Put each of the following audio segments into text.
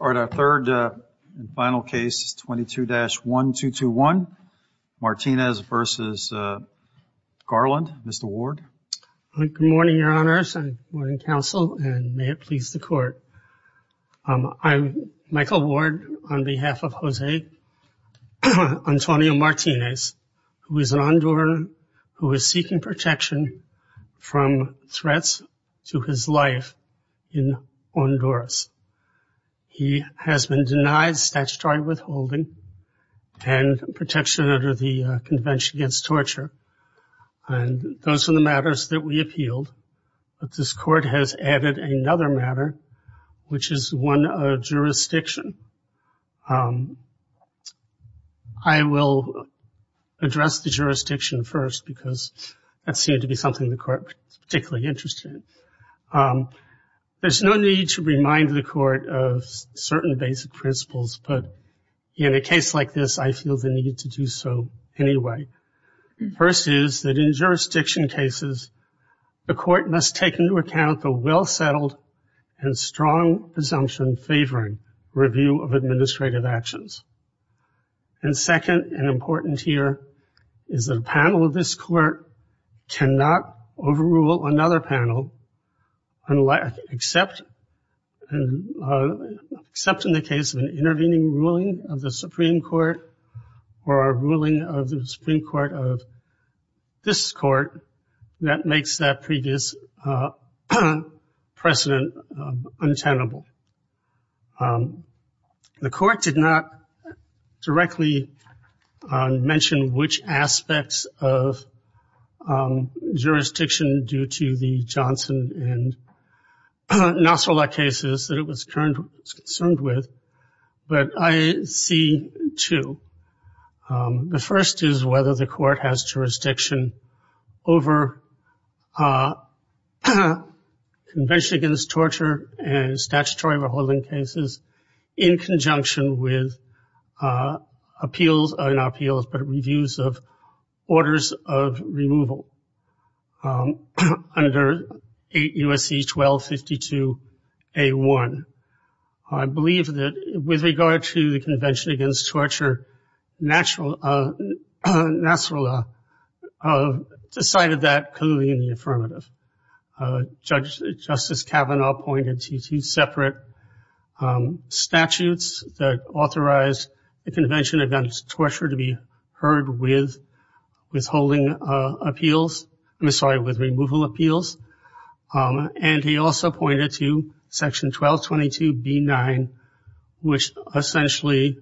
All right, our third and final case is 22-1221, Martinez v. Garland. Mr. Ward. Good morning, Your Honors, and morning, Counsel, and may it please the Court. I'm Michael Ward on behalf of Jose Antonio Martinez, who is an Honduran who is seeking protection from threats to his life in Honduras. He has been denied statutory withholding and protection under the Convention Against Torture, and those are the matters that we appealed. But this Court has added another matter, which is one of jurisdiction. I will address the jurisdiction first because that seemed to be something the Court was particularly interested in. There's no need to remind the Court of certain basic principles, but in a case like this, I feel the need to do so anyway. First is that in jurisdiction cases, the Court must take into account the well- settled and strong presumption favoring review of administrative actions. And second, and important here, is that a panel of this Court cannot overrule another panel except in the case of an intervening ruling of the Supreme Court or a ruling of the Supreme Court of this Court that makes that previous precedent untenable. The Court did not directly mention which aspects of jurisdiction due to the Johnson and Nosler cases that it was concerned with, but I see two. The first is whether the Court has jurisdiction over Convention Against Torture and Statutory Reholding Cases in conjunction with appeals, or not appeals, but reviews of orders of removal under USC 1252A1. I believe that with regard to the Convention Against Torture, Nasrallah decided that clearly in the affirmative. Justice Kavanaugh pointed to two separate statutes that authorized the Convention Against Torture to be heard with withholding appeals, I'm sorry, with removal appeals. And he also pointed to Section 1222B9, which essentially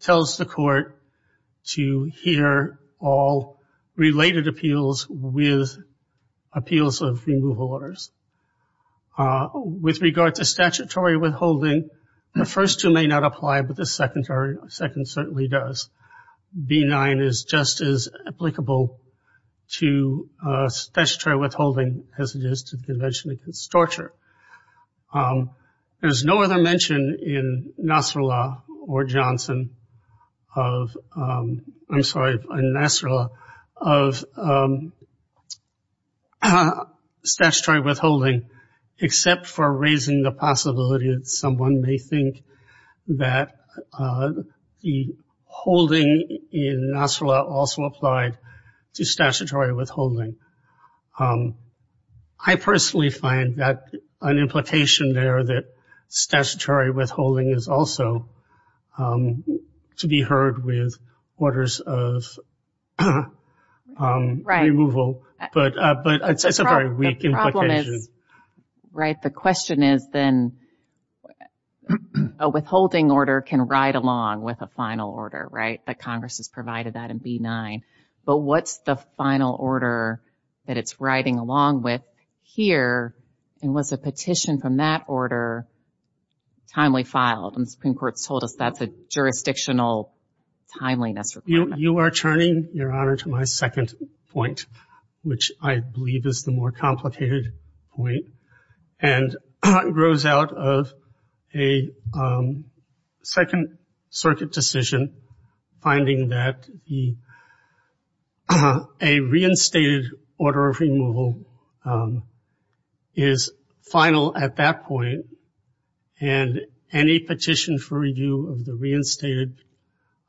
tells the Court to hear all related appeals with appeals of removal orders. With regard to statutory withholding, the first two may not apply, but the second certainly does. B9 is just as applicable to statutory withholding as it is to the Convention Against Torture. There's no other mention in Nasrallah or Johnson of, I'm sorry, in Nasrallah, of statutory withholding, except for raising the possibility that someone may think that the holding in Nasrallah also applied to statutory withholding. I personally find that an implication there that statutory withholding is also to be heard with orders of removal, but it's a very weak implication. Right. The question is then, a withholding order can ride along with a final order, right? That Congress has provided that in B9. But what's the final order that it's riding along with here? And was a petition from that order timely filed? And the Supreme Court's told us that's a jurisdictional timeliness requirement. You are turning, Your Honor, to my second point, which I believe is the more complicated point, and grows out of a Second Circuit decision finding that a reinstated order of removal is final at that point, and any petition for review of the reinstated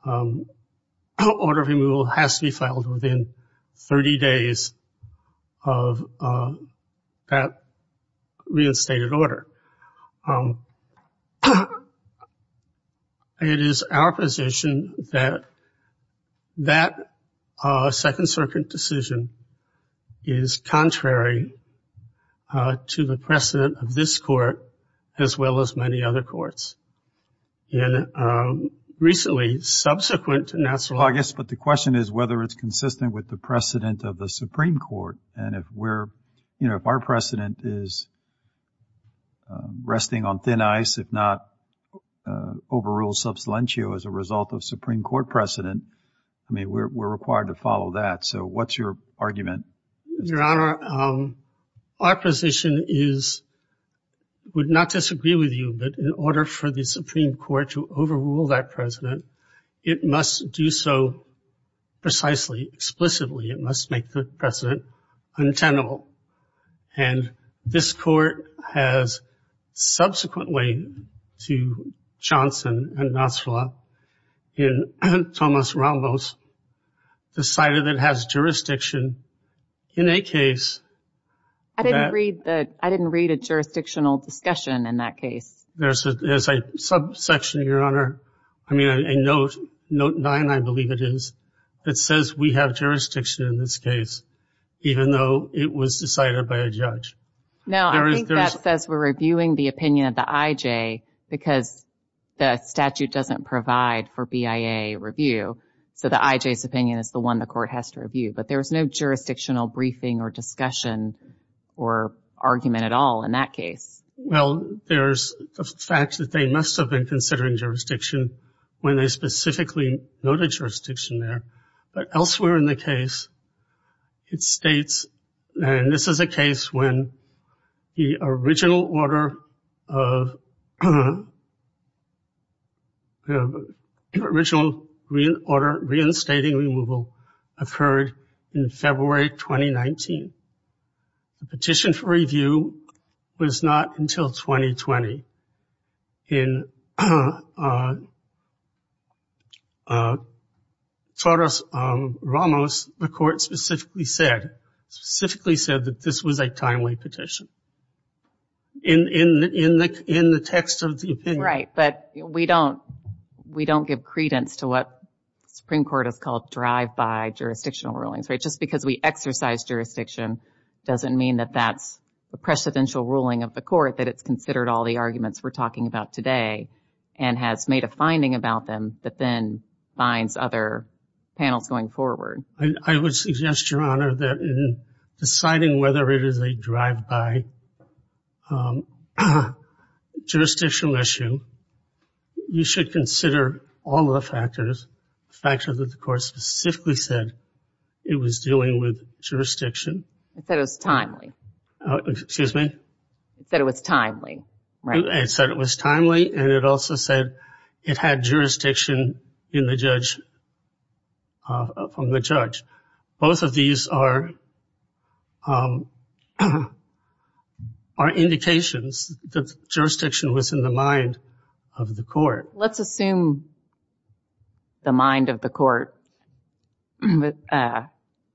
order of removal has to be filed within 30 days of that reinstated order. It is our position that that Second Circuit decision is contrary to the precedent of this court, as well as many other courts. And recently, subsequent national... Well, I guess, but the question is whether it's consistent with the precedent of the Supreme Court. And if we're, you know, if our precedent is resting on thin ice, if not overruled subsidentio as a result of Supreme Court precedent, I mean, we're required to follow that. So what's your argument? Your Honor, our position is, would not disagree with you, but in order for the Supreme Court to overrule that precedent, it must do so precisely, explicitly. It must make the precedent untenable. And this court has subsequently to Johnson and Nasrallah and Thomas Ramos decided that it has jurisdiction in a case... I didn't read the, I didn't read a jurisdictional discussion in that case. There's a subsection, Your Honor, I mean, a note, note nine, I believe it is, that says we have jurisdiction in this case, even though it was decided by a judge. Now, I think that says we're reviewing the opinion of the IJ because the statute doesn't provide for BIA review. So the IJ's opinion is the one the court has to review, but there was no jurisdictional briefing or discussion or argument at all in that case. Well, there's the fact that they must have been considering jurisdiction when they specifically noted jurisdiction there. But elsewhere in the case, it states, and this is a case when the original order of the original order reinstating removal occurred in February 2019. The petition for review was not until 2020. In Thomas Ramos, the court specifically said, specifically said that this was a timely petition. In the text of the opinion. Right, but we don't, we don't give credence to what the Supreme Court has called drive-by jurisdictional rulings, right? Just because we exercise jurisdiction doesn't mean that that's the precedential ruling of the court, that it's considered all the arguments we're talking about today and has made a finding about them that then binds other panels going forward. I would suggest, Your Honor, that in deciding whether it is a drive-by jurisdictional issue, you should consider all the factors, factors that the court specifically said it was dealing with jurisdiction. It said it was timely. Excuse me? It said it was timely, right? It said it was timely and it also said it had jurisdiction in the judge, from the judge. Both of these are, are indications that jurisdiction was in the mind of the court. Let's assume the mind of the court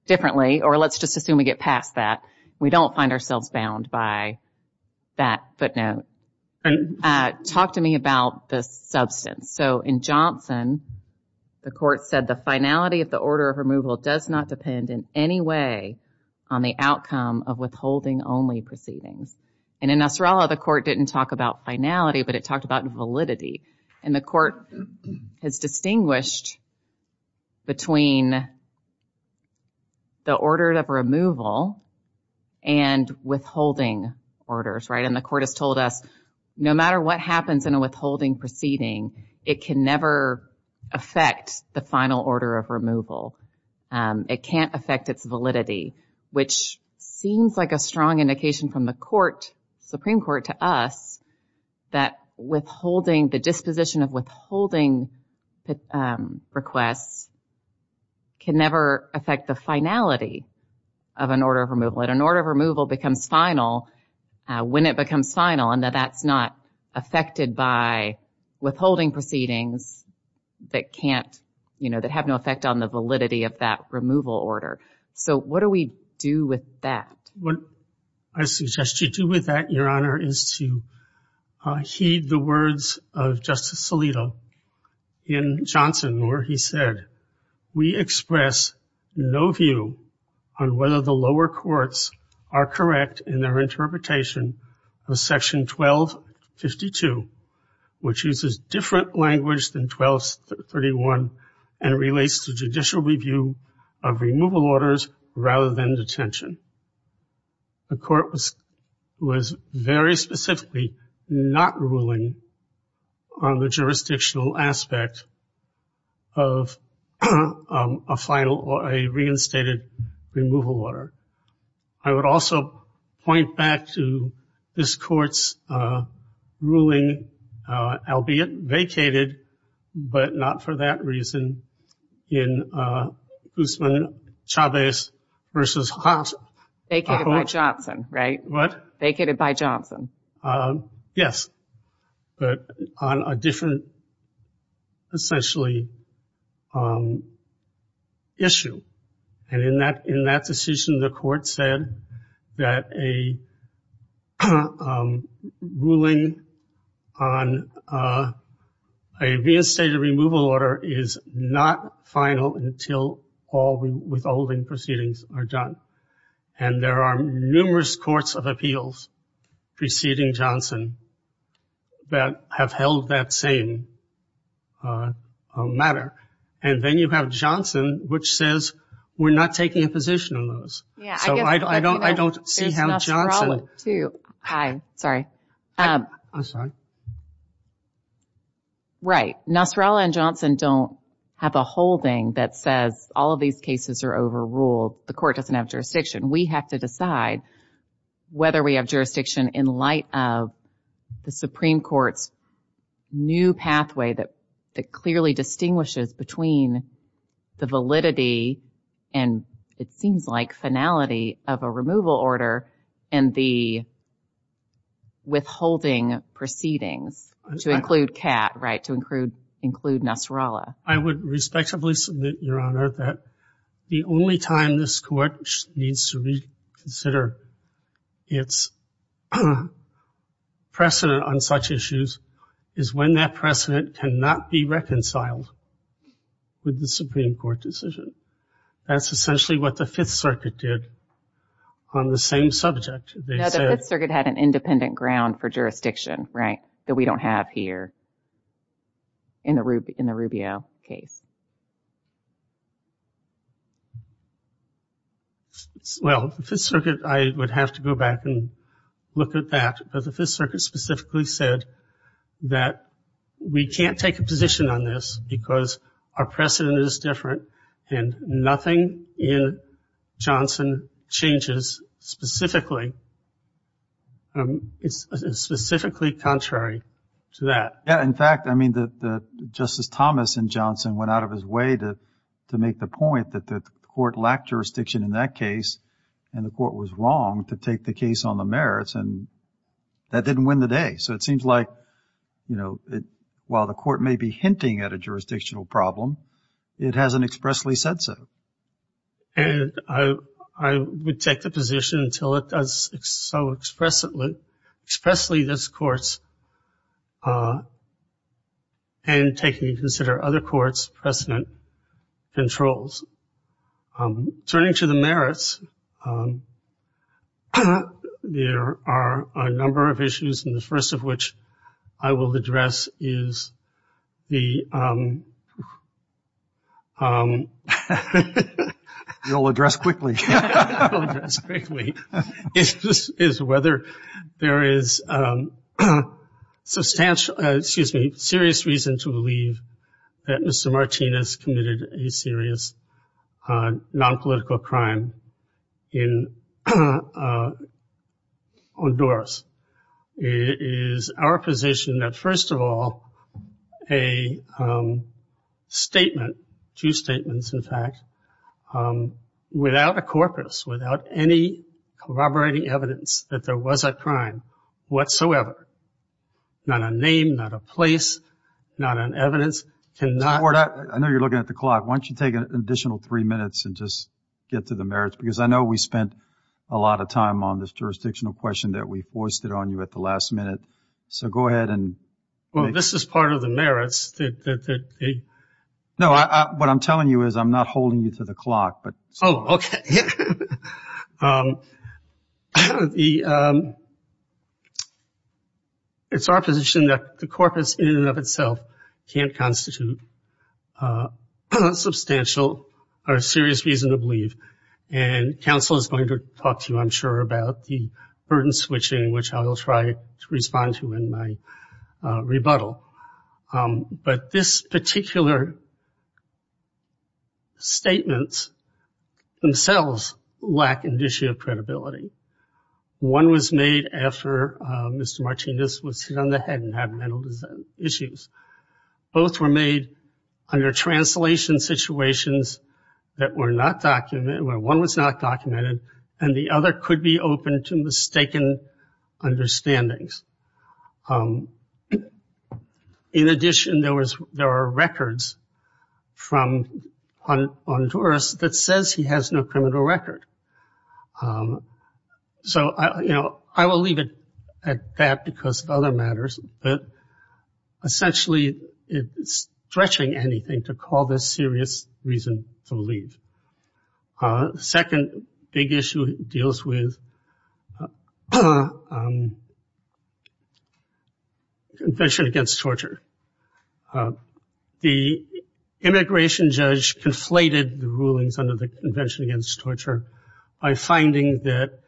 differently, or let's just assume we get past that. We don't find ourselves bound by that footnote. Talk to me about the substance. So in Johnson, the court said the finality of the order of removal does not depend in any way on the outcome of withholding only proceedings. And in Nasrallah, the court didn't talk about finality, but it talked about validity. And the court has distinguished between the order of removal and withholding orders, right? And the court has told us no matter what happens in a withholding proceeding, it can never affect the final order of removal. It can't affect its validity, which seems like a strong indication from the court, Supreme Court, to us that withholding, the disposition of withholding requests can never affect the finality of an order of removal. An order of removal becomes final when it becomes final and that that's not affected by withholding proceedings that can't, you know, that have no effect on the validity of that removal order. So what do we do with that? What I suggest you do with that, Your Honor, is to heed the words of Justice Alito in their interpretation of Section 1252, which uses different language than 1231 and relates to judicial review of removal orders rather than detention. The court was very specifically not ruling on the jurisdictional aspect of a final or a reinstated removal order. I would also point back to this court's ruling, albeit vacated, but not for that reason, in Guzman-Chavez v. Hobson. Vacated by Johnson, right? What? Vacated by Johnson. Yes, but on a different, essentially, issue. And in that decision, the court said that a ruling on a reinstated removal order is not final until all the withholding proceedings are done. And there are numerous courts of appeals preceding Johnson that have held that same matter. And then you have Johnson, which says, we're not taking a position on those. So I don't, I don't, I don't see how Johnson. There's Nasrallah, too. I'm sorry. Right. Nasrallah and Johnson don't have a holding that says all of these cases are overruled. The court doesn't have jurisdiction. We have to decide whether we have jurisdiction in light of the Supreme Court's new pathway that, that clearly distinguishes between the validity and, it seems like, finality of a removal order and the withholding proceedings to include Kat, right? To include, include Nasrallah. I would respectively submit, Your Honor, that the only time this court needs to reconsider its precedent on such issues is when that precedent cannot be reconciled with the Supreme Court decision. That's essentially what the Fifth Circuit did on the same subject. The Fifth Circuit had an independent ground for jurisdiction, right, that we don't have here in the Rubio case. Well, the Fifth Circuit, I would have to go back and look at that, but the Fifth Circuit specifically said that we can't take a position on this because our precedent is different and nothing in Johnson changes specifically, specifically contrary to that. Yeah, in fact, I mean, Justice Thomas in Johnson went out of his way to make the point that the court lacked jurisdiction in that case and the court was wrong to take the case on the merits and that didn't win the day. So it seems like, you know, while the court may be hinting at a jurisdictional problem, it hasn't expressly said so. And I would take the position until it does so expressly, expressly this court's and taking into consider other courts' precedent controls. Turning to the merits, there are a number of issues, and the first of which I will address quickly is whether there is substantial, excuse me, serious reason to believe that Mr. Martinez committed a serious nonpolitical crime in Honduras. It is our position that, first of all, a statement, two statements, in fact, without a corpus, without any corroborating evidence that there was a crime whatsoever, not a name, not a place, not an evidence, cannot. Ward, I know you're looking at the clock. Why don't you take an additional three minutes and just get to the merits? Because I know we spent a lot of time on this jurisdictional question that we foisted on you at the last minute. So go ahead and. Well, this is part of the merits. No, what I'm telling you is I'm not holding you to the clock, but. Oh, OK. It's our position that the corpus in and of itself can't constitute substantial or serious reason to believe. And counsel is going to talk to you, I'm sure, about the burden switching, which I will try to respond to in my rebuttal. But this particular statement themselves lack an issue of credibility. One was made after Mr. Martinez was hit on the head and had mental issues. Both were made under translation situations that were not documented where one was not documented and the other could be open to mistaken understandings. In addition, there was there are records from Honduras that says he has no criminal record. So, you know, I will leave it at that because of other matters, but essentially it's stretching anything to call this serious reason to leave. Second big issue deals with. Convention against torture. The immigration judge conflated the rulings under the Convention against Torture by finding that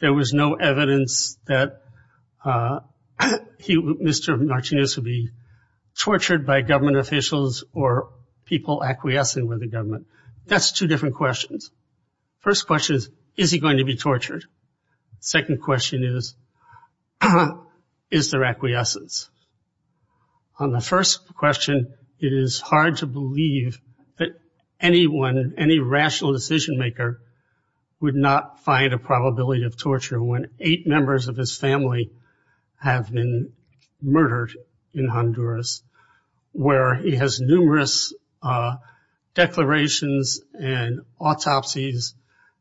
there was no evidence that Mr. Martinez would be tortured by government officials or people acquiescing with the government. That's two different questions. First question is, is he going to be tortured? Second question is, is there acquiescence? On the first question, it is hard to believe that anyone, any rational decision maker would not find a probability of torture when eight members of his family have been murdered in Honduras, where he has numerous declarations and autopsies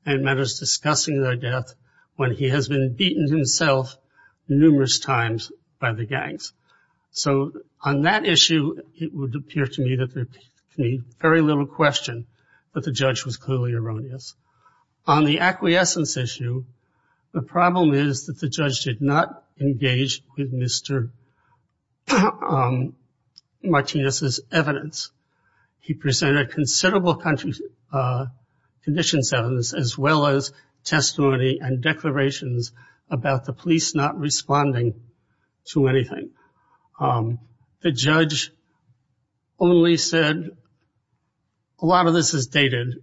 and matters discussing their death when he has been beaten himself numerous times by the gangs. So on that issue, it would appear to me that there can be very little question, but the judge was clearly erroneous. On the acquiescence issue, the problem is that the judge did not engage with Mr. Martinez's evidence. He presented considerable conditions as well as testimony and declarations about the police not responding to anything. The judge only said, a lot of this is dated.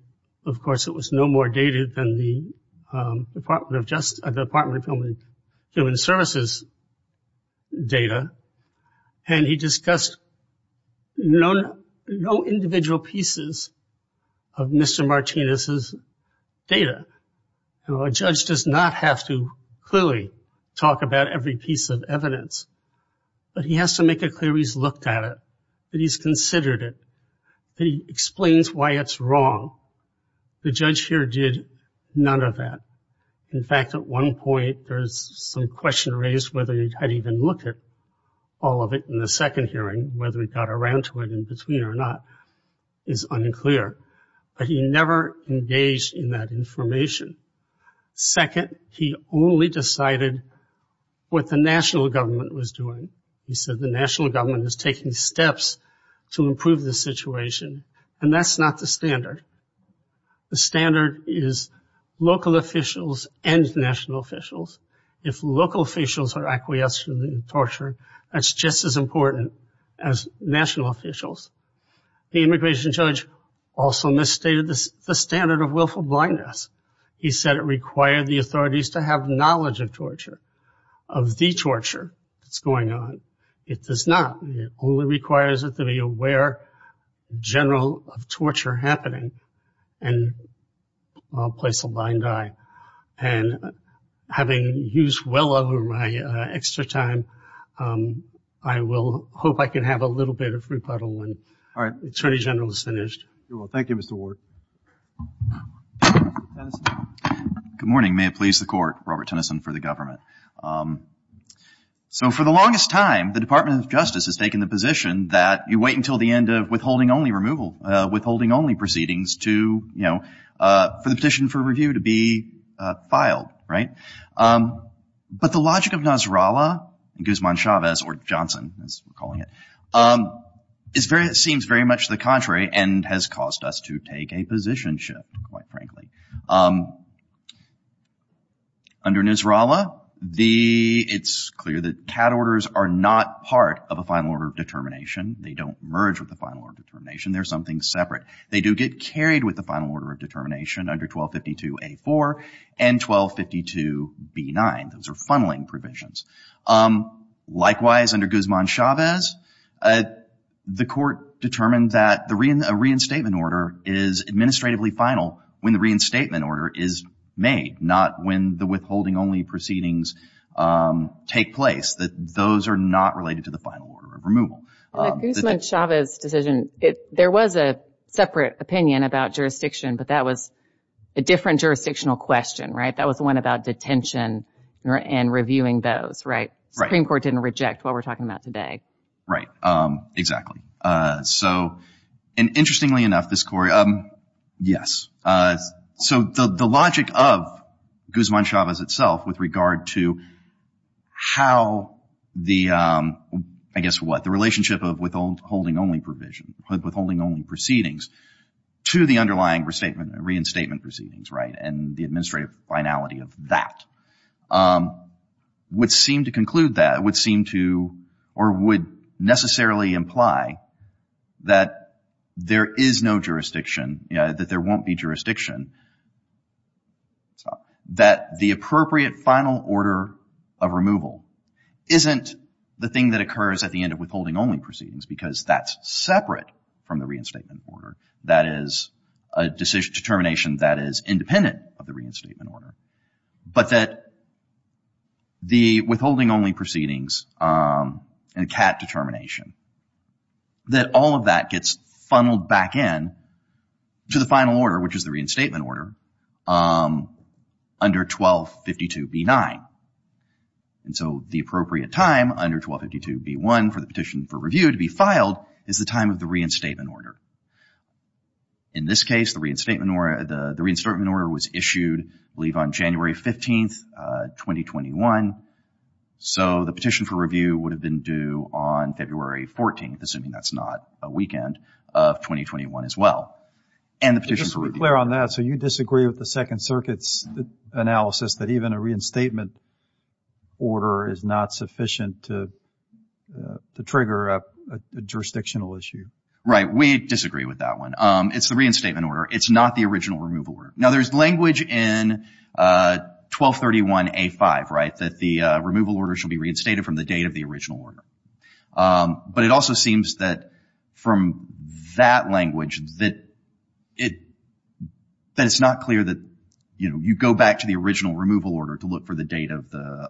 Of course, it was no more dated than the Department of Human Services data. And he discussed no individual pieces of Mr. Martinez's data. A judge does not have to clearly talk about every piece of evidence, but he has to make it clear he's looked at it, that he's considered it, that he explains why it's wrong. The judge here did none of that. In fact, at one point, there's some question raised whether he had even looked at all of it in the second hearing, whether he got around to it in between or not is unclear. But he never engaged in that information. Second, he only decided what the national government was doing. He said the national government is taking steps to improve the situation, and that's not the standard. The standard is local officials and national officials. If local officials are acquiescing in torture, that's just as important as national officials. The immigration judge also misstated the standard of willful blindness. He said it required the authorities to have knowledge of torture, of the torture that's going on. It does not. It only requires it to be aware, general of torture happening, and place a blind eye. Having used well over my extra time, I will hope I can have a little bit of rebuttal when Attorney General is finished. Thank you, Mr. Ward. Good morning. May it please the court, Robert Tennyson for the government. So for the longest time, the Department of Justice has taken the position that you wait until the end of withholding only removal, withholding only proceedings to, you know, for the petition for review to be filed, right? But the logic of Nasrallah and Guzman Chavez, or Johnson as we're calling it, is very, seems very much the contrary and has caused us to take a position shift, quite frankly. Under Nasrallah, the, it's clear that cat orders are not part of a final order of determination. They don't merge with the final order of determination. They're something separate. They do get carried with the final order of determination under 1252A4 and 1252B9. Those are funneling provisions. Likewise, under Guzman Chavez, the court determined that the reinstatement order is administratively final when the reinstatement order is made, not when the withholding only proceedings take place, that those are not related to the final order of removal. Guzman Chavez's decision, there was a separate opinion about jurisdiction, but that was a different jurisdictional question, right? That was the one about detention and reviewing those, right? The Supreme Court didn't reject what we're talking about today, right? Exactly. So, and interestingly enough, this court, yes, so the logic of Guzman Chavez itself with regard to how the, I guess what, the relationship of withholding only provision, withholding only proceedings to the underlying restatement, reinstatement proceedings, right, and the administrative finality of that would seem to conclude that, would seem to or would necessarily imply that there is no jurisdiction, that there won't be jurisdiction, that the appropriate final order of removal isn't the thing that occurs at the end of withholding only proceedings because that's separate from the reinstatement order. That is a decision, determination that is independent of the reinstatement order, but that the withholding only proceedings and CAT determination, that all of that gets funneled back in to the final order, which is the reinstatement order under 1252 B-9. And so the appropriate time under 1252 B-1 for the petition for review to be filed is the time of the reinstatement order. In this case, the reinstatement order, the reinstatement order was issued, I believe, on January 15th, 2021. So the petition for review would have been due on February 14th, assuming that's not a weekend, of and the petition for review. Just to be clear on that, so you disagree with the Second Circuit's analysis that even a reinstatement order is not sufficient to to trigger a jurisdictional issue? Right, we disagree with that one. It's the reinstatement order. It's not the original removal order. Now, there's language in 1231 A-5, right, that the removal order shall be reinstated from the date of the original order. But it also seems that from that language that it that it's not clear that, you know, you go back to the original removal order to look for the date of the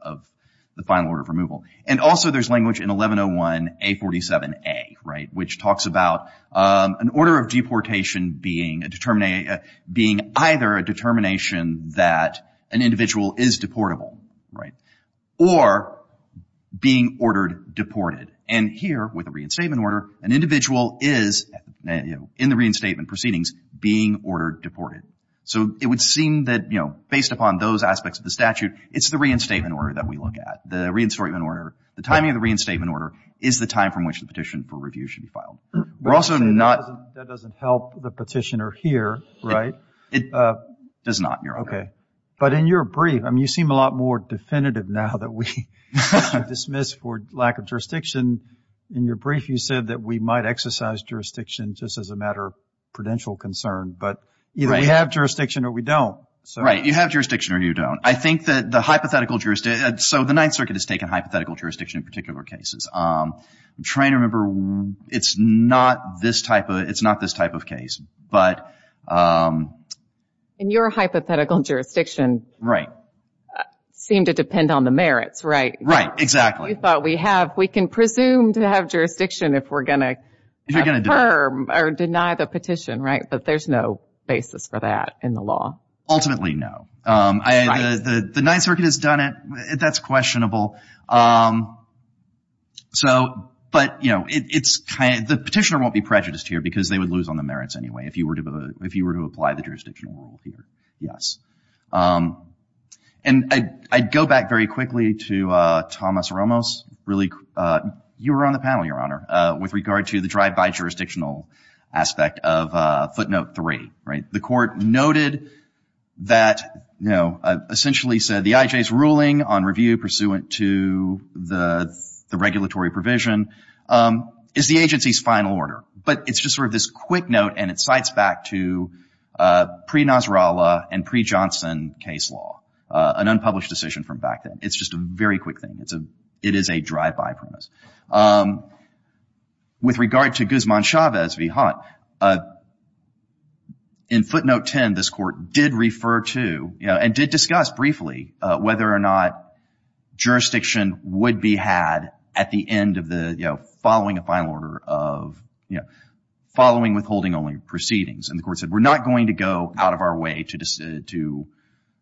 final order of removal. And also there's language in 1101 A-47A, right, which talks about an order of deportation being a determination, being either a determination that an individual is deportable, right, or being ordered deported. And here, with a reinstatement order, an individual is, you know, in the reinstatement proceedings, being ordered deported. So it would seem that, you know, based upon those aspects of the statute, it's the reinstatement order that we look at. The reinstatement order, the timing of the reinstatement order, is the time from which the petition for review should be filed. We're also not... That doesn't help the petitioner here, right? It does not, Your Honor. Okay, but in your brief, I mean, you seem a lot more definitive now that we have dismissed for lack of jurisdiction. In your brief, you said that we might exercise jurisdiction just as a matter of prudential concern, but either we have jurisdiction or we don't. Right, you have jurisdiction or you don't. I think that the hypothetical jurisdiction... So the Ninth Circuit has taken hypothetical jurisdiction in particular cases. I'm trying to remember. It's not this type of... It's not this type of case, but... In your hypothetical jurisdiction... Right. It doesn't seem to depend on the merits, right? Right, exactly. You thought we have... We can presume to have jurisdiction if we're going to affirm or deny the petition, right? But there's no basis for that in the law. Ultimately, no. The Ninth Circuit has done it. That's questionable. So, but, you know, it's kind of... The petitioner won't be prejudiced here because they would lose on the merits anyway if you were to apply the jurisdictional rule here. Yes. And I'd go back very quickly to Thomas Ramos. Really, you were on the panel, Your Honor, with regard to the drive-by jurisdictional aspect of footnote three, right? The court noted that, you know, essentially said the IJ's ruling on review pursuant to the regulatory provision is the agency's final order. But it's just sort of this quick note, and it cites back to pre-Nasrallah and pre-Johnson case law, an unpublished decision from back then. It's just a very quick thing. It is a drive-by premise. With regard to Guzman Chavez v. Hunt, in footnote 10, this court did refer to, you know, and did discuss briefly whether or not jurisdiction would be had at the end of the, you know, following a final order of, you know, following withholding only proceedings. And the court said, we're not going to go out of our way to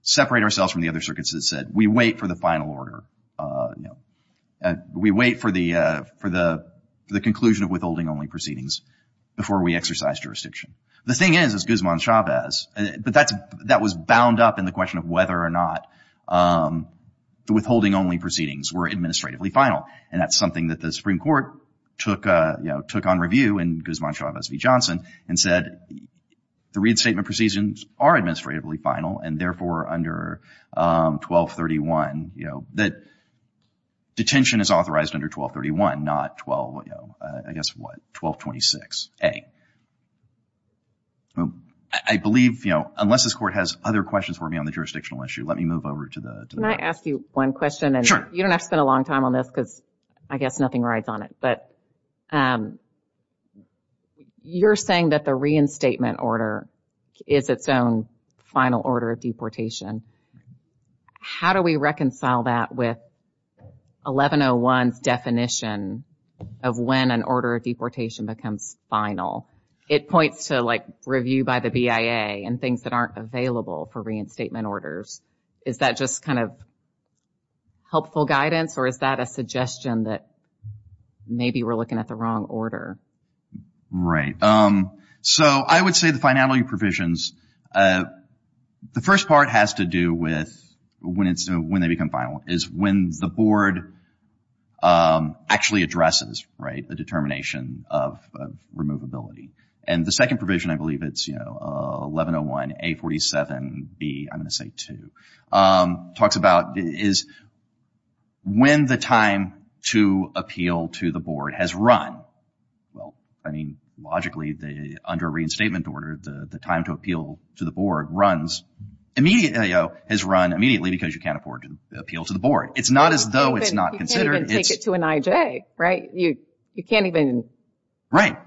separate ourselves from the other circuits that said we wait for the final order, you know. We wait for the conclusion of withholding only proceedings before we exercise jurisdiction. The thing is, is Guzman Chavez, but that was bound up in the question of whether or not the withholding only proceedings were administratively final. And that's something that the Supreme Court took, you know, took on review in Guzman Chavez v. Johnson and said the Reed Statement Proceedings are administratively final and therefore under 1231, you know, that detention is authorized under 1231, not 12, you know, I guess what, 1226a. I believe, you know, unless this court has other questions for me on the jurisdictional issue, let me move over to the next. Can I ask you one question? Sure. You don't have to spend a long time on this because I guess nothing rides on it, but you're saying that the reinstatement order is its own final order of deportation. How do we reconcile that with 1101's definition of when an order of deportation becomes final? It points to, like, review by the BIA and things that aren't available for reinstatement orders. Is that just kind of helpful guidance or is that a suggestion that maybe we're looking at the wrong order? Right. So I would say the finality provisions, the first part has to do with when they become final is when the board actually addresses, right, the determination of removability. And the second provision, I believe it's, you know, 1101A47B, I'm going to say two, talks about is when the time to appeal to the board has run. Well, I mean, logically, under a reinstatement order, the time to appeal to the board runs immediately, you know, has run immediately because you can't afford to appeal to the board. It's not as though it's not considered. And take it to an IJ, right? You can't even,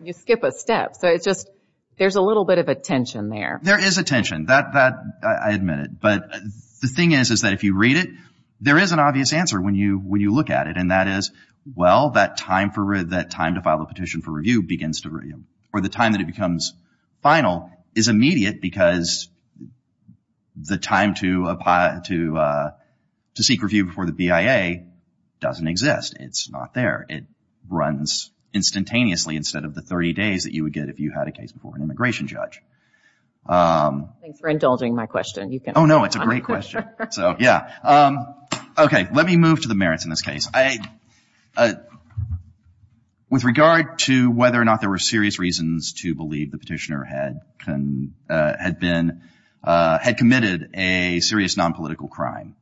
you skip a step. So it's just, there's a little bit of a tension there. There is a tension. That, I admit it. But the thing is, is that if you read it, there is an obvious answer when you look at it. And that is, well, that time to file a petition for review begins to, or the time that it becomes final is immediate because the time to seek review before the BIA doesn't exist. It's not there. It runs instantaneously instead of the 30 days that you would get if you had a case before an immigration judge. Thanks for indulging my question. Oh, no, it's a great question. So, yeah. Okay. Let me move to the merits in this case. With regard to whether or not there were serious reasons to believe the petitioner had been, had committed a serious nonpolitical crime,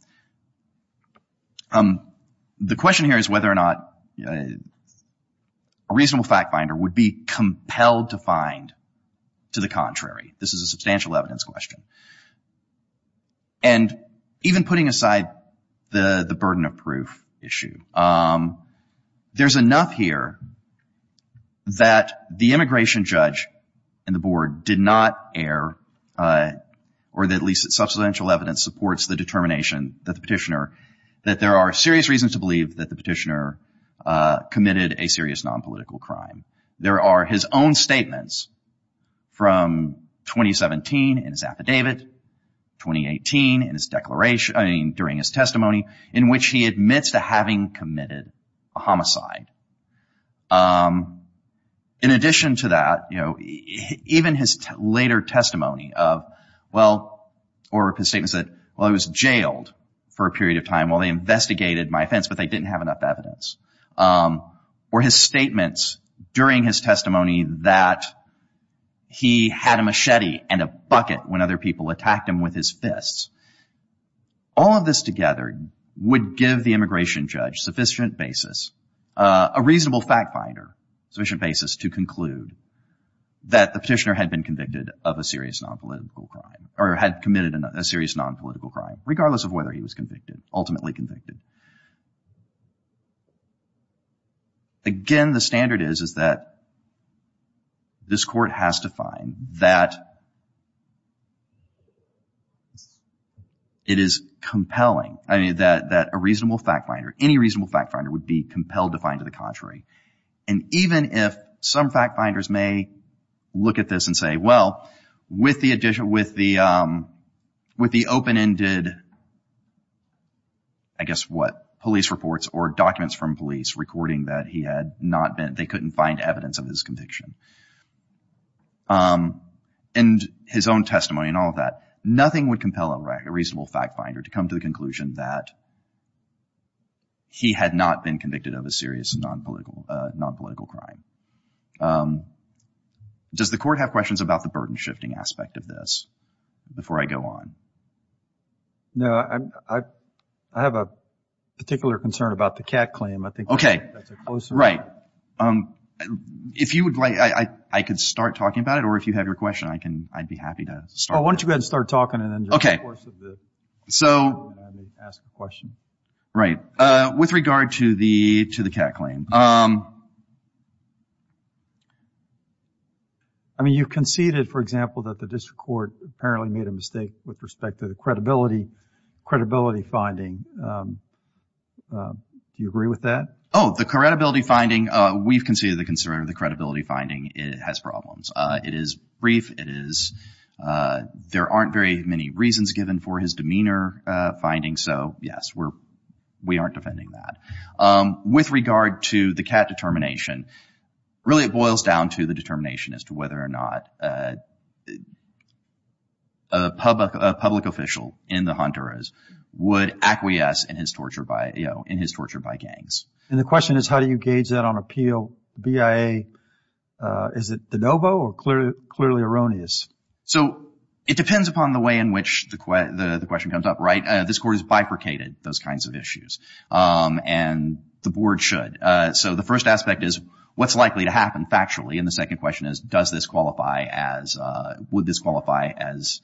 the question here is whether or not a reasonable fact finder would be compelled to find to the contrary. This is a substantial evidence question. And even putting aside the burden of proof issue, there's enough here that the immigration judge and the board did not err, or at least that substantial evidence supports the determination that the petitioner, that there are serious reasons to believe that the petitioner committed a serious nonpolitical crime. There are his own statements from 2017 in his affidavit, 2018 in his declaration, I mean, during his testimony, in which he admits to having committed a homicide. In addition to that, you know, even his later testimony of, well, or his statements that, well, he was jailed for a period of time, well, they investigated my offense, but they didn't have enough evidence. Or his statements during his would give the immigration judge sufficient basis, a reasonable fact finder, sufficient basis to conclude that the petitioner had been convicted of a serious nonpolitical crime, or had committed a serious nonpolitical crime, regardless of whether he was convicted, ultimately convicted. Again, the standard is, is that this court has to find that it is compelling, I mean, that a reasonable fact finder, any reasonable fact finder would be compelled to find to the contrary. And even if some fact finders may look at this and say, well, with the addition, with the, with the what, police reports or documents from police recording that he had not been, they couldn't find evidence of his conviction, and his own testimony and all of that, nothing would compel a reasonable fact finder to come to the conclusion that he had not been convicted of a serious nonpolitical, nonpolitical crime. Does the court have questions about the burden shifting aspect of this before I go on? No, I, I have a particular concern about the Catt claim. I think that's a closer. Okay, right. If you would like, I could start talking about it, or if you have your question, I can, I'd be happy to start. Oh, why don't you go ahead and start talking, and then during the course of this, I may ask a question. Right. With regard to the, to the Catt claim. I mean, you conceded, for example, that the district court apparently made a mistake with respect to the credibility, credibility finding. Do you agree with that? Oh, the credibility finding, we've conceded the concern of the credibility finding, it has problems. It is brief, it is, there aren't very many reasons given for his demeanor finding, so yes, we're, we aren't defending that. With regard to the Catt determination, really it boils down to the determination as to whether or not a public, a public official in the Hunteras would acquiesce in his torture by, you know, in his torture by gangs. And the question is how do you gauge that on appeal? BIA, is it de novo or clearly, clearly erroneous? So it depends upon the way in which the question comes up, right? This court has bifurcated those kinds of issues, and the board should. So the first aspect is what's likely to happen factually, and the second question is does this qualify as, would this qualify as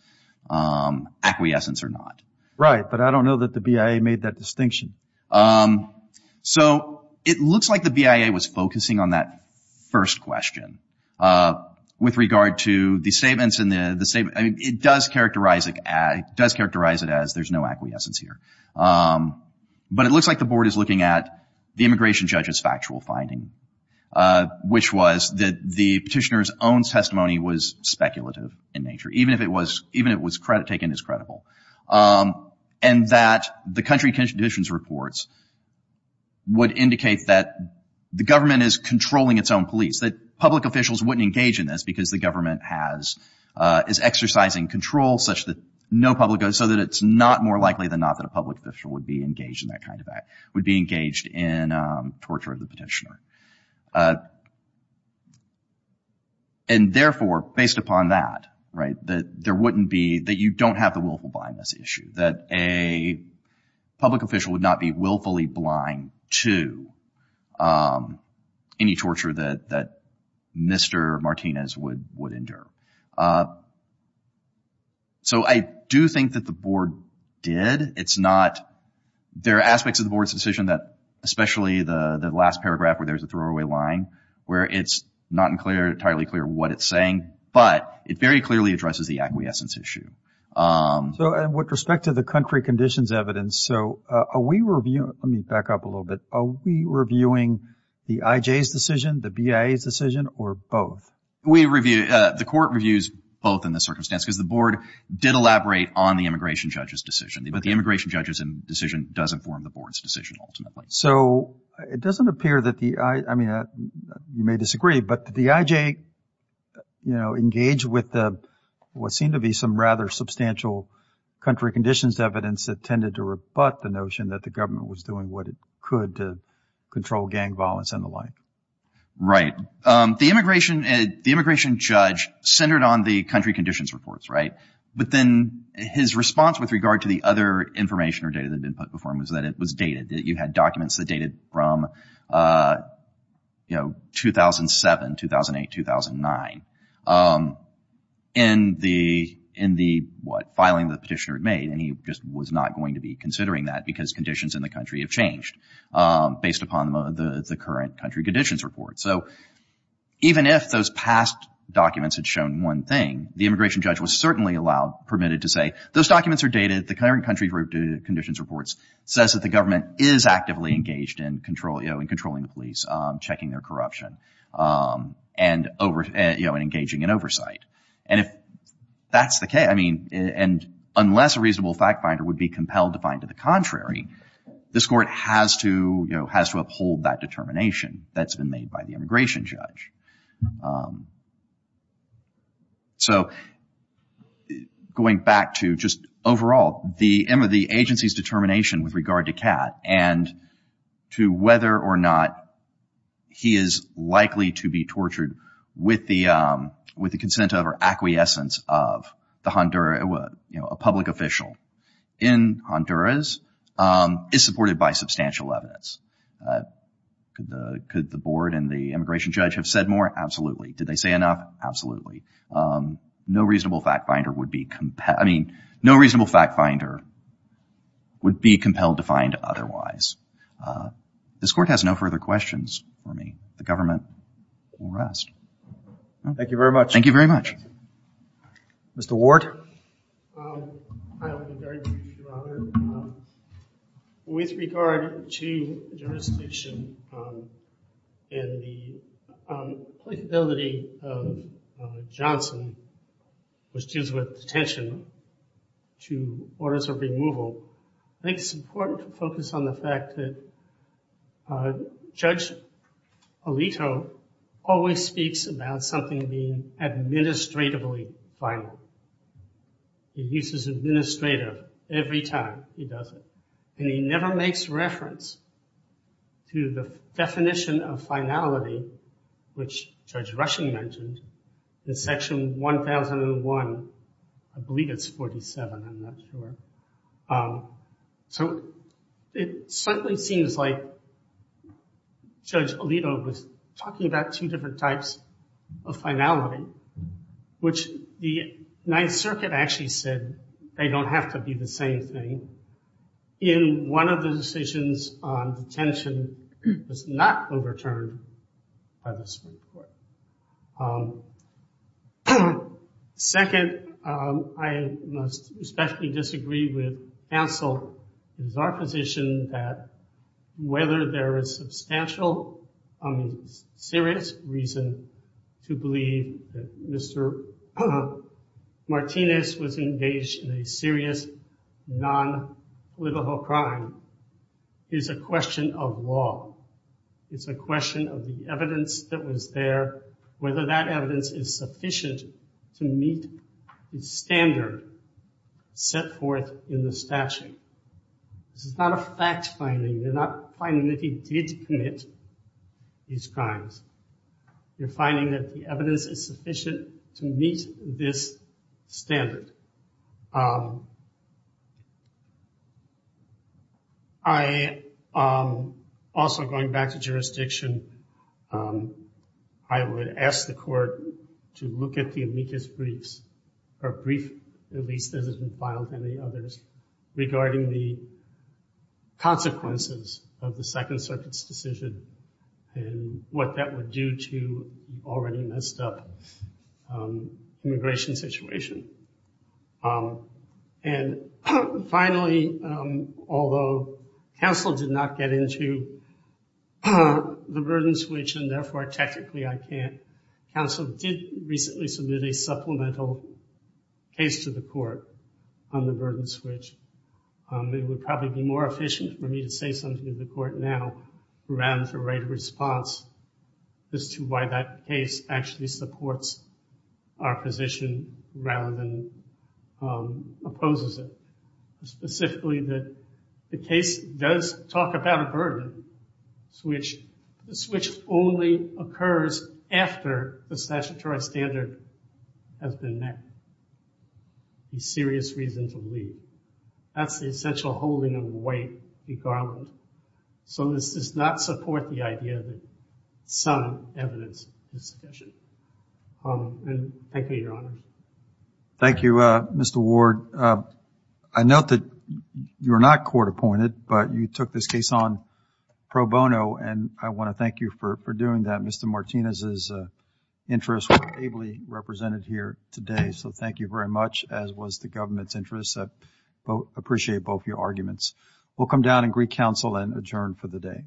acquiescence or not? Right, but I don't know that the BIA made that distinction. So it looks like the BIA was focusing on that first question. With regard to the statements in the, the statement, I mean, it does characterize it, it does characterize it as there's no acquiescence here. But it looks like the board is looking at the immigration judge's factual finding, which was that the petitioner's own testimony was speculative in nature, even if it was, even if it was credit, taken as credible. And that the country conditions reports would indicate that the government is controlling its own police, that public officials wouldn't engage in this because the government has, is exercising control such that no public, so that it's not more likely than not that a public official would be engaged in that kind of act, would be engaged in torture of the petitioner. And therefore, based upon that, right, that there wouldn't be, that you don't have the willful blindness issue, that a public official would not be willfully blind to any torture that, that Mr. Martinez would, would endure. So I do think that the board did. It's not, there are aspects of the board's decision that, especially the last paragraph where there's a throwaway line, where it's not entirely clear what it's saying, but it very clearly addresses the acquiescence issue. So, and with respect to the country conditions evidence, so are we reviewing, let me back up a little bit, are we reviewing the IJ's decision, the BIA's decision, or both? We review, the court reviews both in this circumstance because the board did elaborate on the immigration judge's decision. But the immigration judge's decision doesn't form the board's decision ultimately. So it doesn't appear that the, I mean, you may disagree, but the IJ, you know, engaged with what seemed to be some rather substantial country conditions evidence that tended to rebut the notion that the government was doing what it could to control gang violence and the like. Right. The immigration, the immigration judge centered on the country conditions reports, right? But then his response with regard to the other information or data that had been put before him was that it was dated, that you had documents that dated from, you know, 2007, 2008, 2009. In the, in the, what, filing the petitioner had made, and he just was not going to be considering that because conditions in the country have changed based upon the current country conditions report. So even if those past documents had shown one thing, the immigration judge was certainly allowed, permitted to say, those documents are dated. The current country conditions reports says that the government is actively engaged in control, you know, in controlling the police, checking their corruption, and over, you know, engaging in oversight. And if that's the case, I mean, and unless a reasonable fact finder would be compelled to find to the contrary, this court has to, you know, has to uphold that determination that's been made by the immigration judge. So going back to just overall, the agency's determination with regard to Kat and to whether or not he is likely to be tortured with the, with the consent of or acquiescence of the Honduras, you know, a public official in Honduras is supported by substantial evidence. Could the, could the board and the immigration judge have said more? Absolutely. Did they say enough? Absolutely. No reasonable fact finder would be, I mean, no reasonable fact finder would be compelled to find otherwise. This court has no further questions for me. The government will rest. Thank you very much. Thank you very much. Mr. Ward. With regard to jurisdiction and the applicability of Johnson, which deals with detention to orders of removal, I think it's important to focus on the fact that Judge Alito always speaks about something being administratively final. He uses administrative every time he does it. And he never makes reference to the definition of finality, which Judge Rushing mentioned, in Section 1001, I believe it's 47, I'm not sure. So it certainly seems like Judge Alito was talking about two different types of finality, which the Ninth Circuit actually said they don't have to be the same thing in one of the decisions on detention was not overturned by the Supreme Court. Second, I must especially disagree with Ansel. It is our position that whether there is substantial, I mean, serious reason to believe that Mr. Martinez was engaged in a serious non-political crime is a question of law. It's a question of the evidence that was there, whether that evidence is sufficient to meet the standard set forth in the statute. This is not a fact finding. You're not finding that he did commit these crimes. You're finding that the evidence is sufficient to meet this standard. I also, going back to jurisdiction, I would ask the court to look at the amicus briefs, or brief, at least as it's been filed, regarding the consequences of the Second Circuit's decision and what that would do to the already messed up immigration situation. And finally, although counsel did not get into the burden switch, and therefore technically I can't, counsel did recently submit a supplemental case to the court on the burden switch. It would probably be more efficient for me to say something to the court now rather than to write a response as to why that case actually supports our position rather than opposes it. Specifically that the case does talk about a burden switch, but the switch only occurs after the statutory standard has been met. A serious reason to leave. That's the essential holding of a weight in Garland. So this does not support the idea that some evidence is sufficient. Thank you, Your Honor. Thank you, Mr. Ward. I note that you're not court appointed, but you took this case on pro bono, and I want to thank you for doing that. Mr. Martinez's interests were ably represented here today, so thank you very much, as was the government's interests. I appreciate both your arguments. We'll come down and greet counsel and adjourn for the day.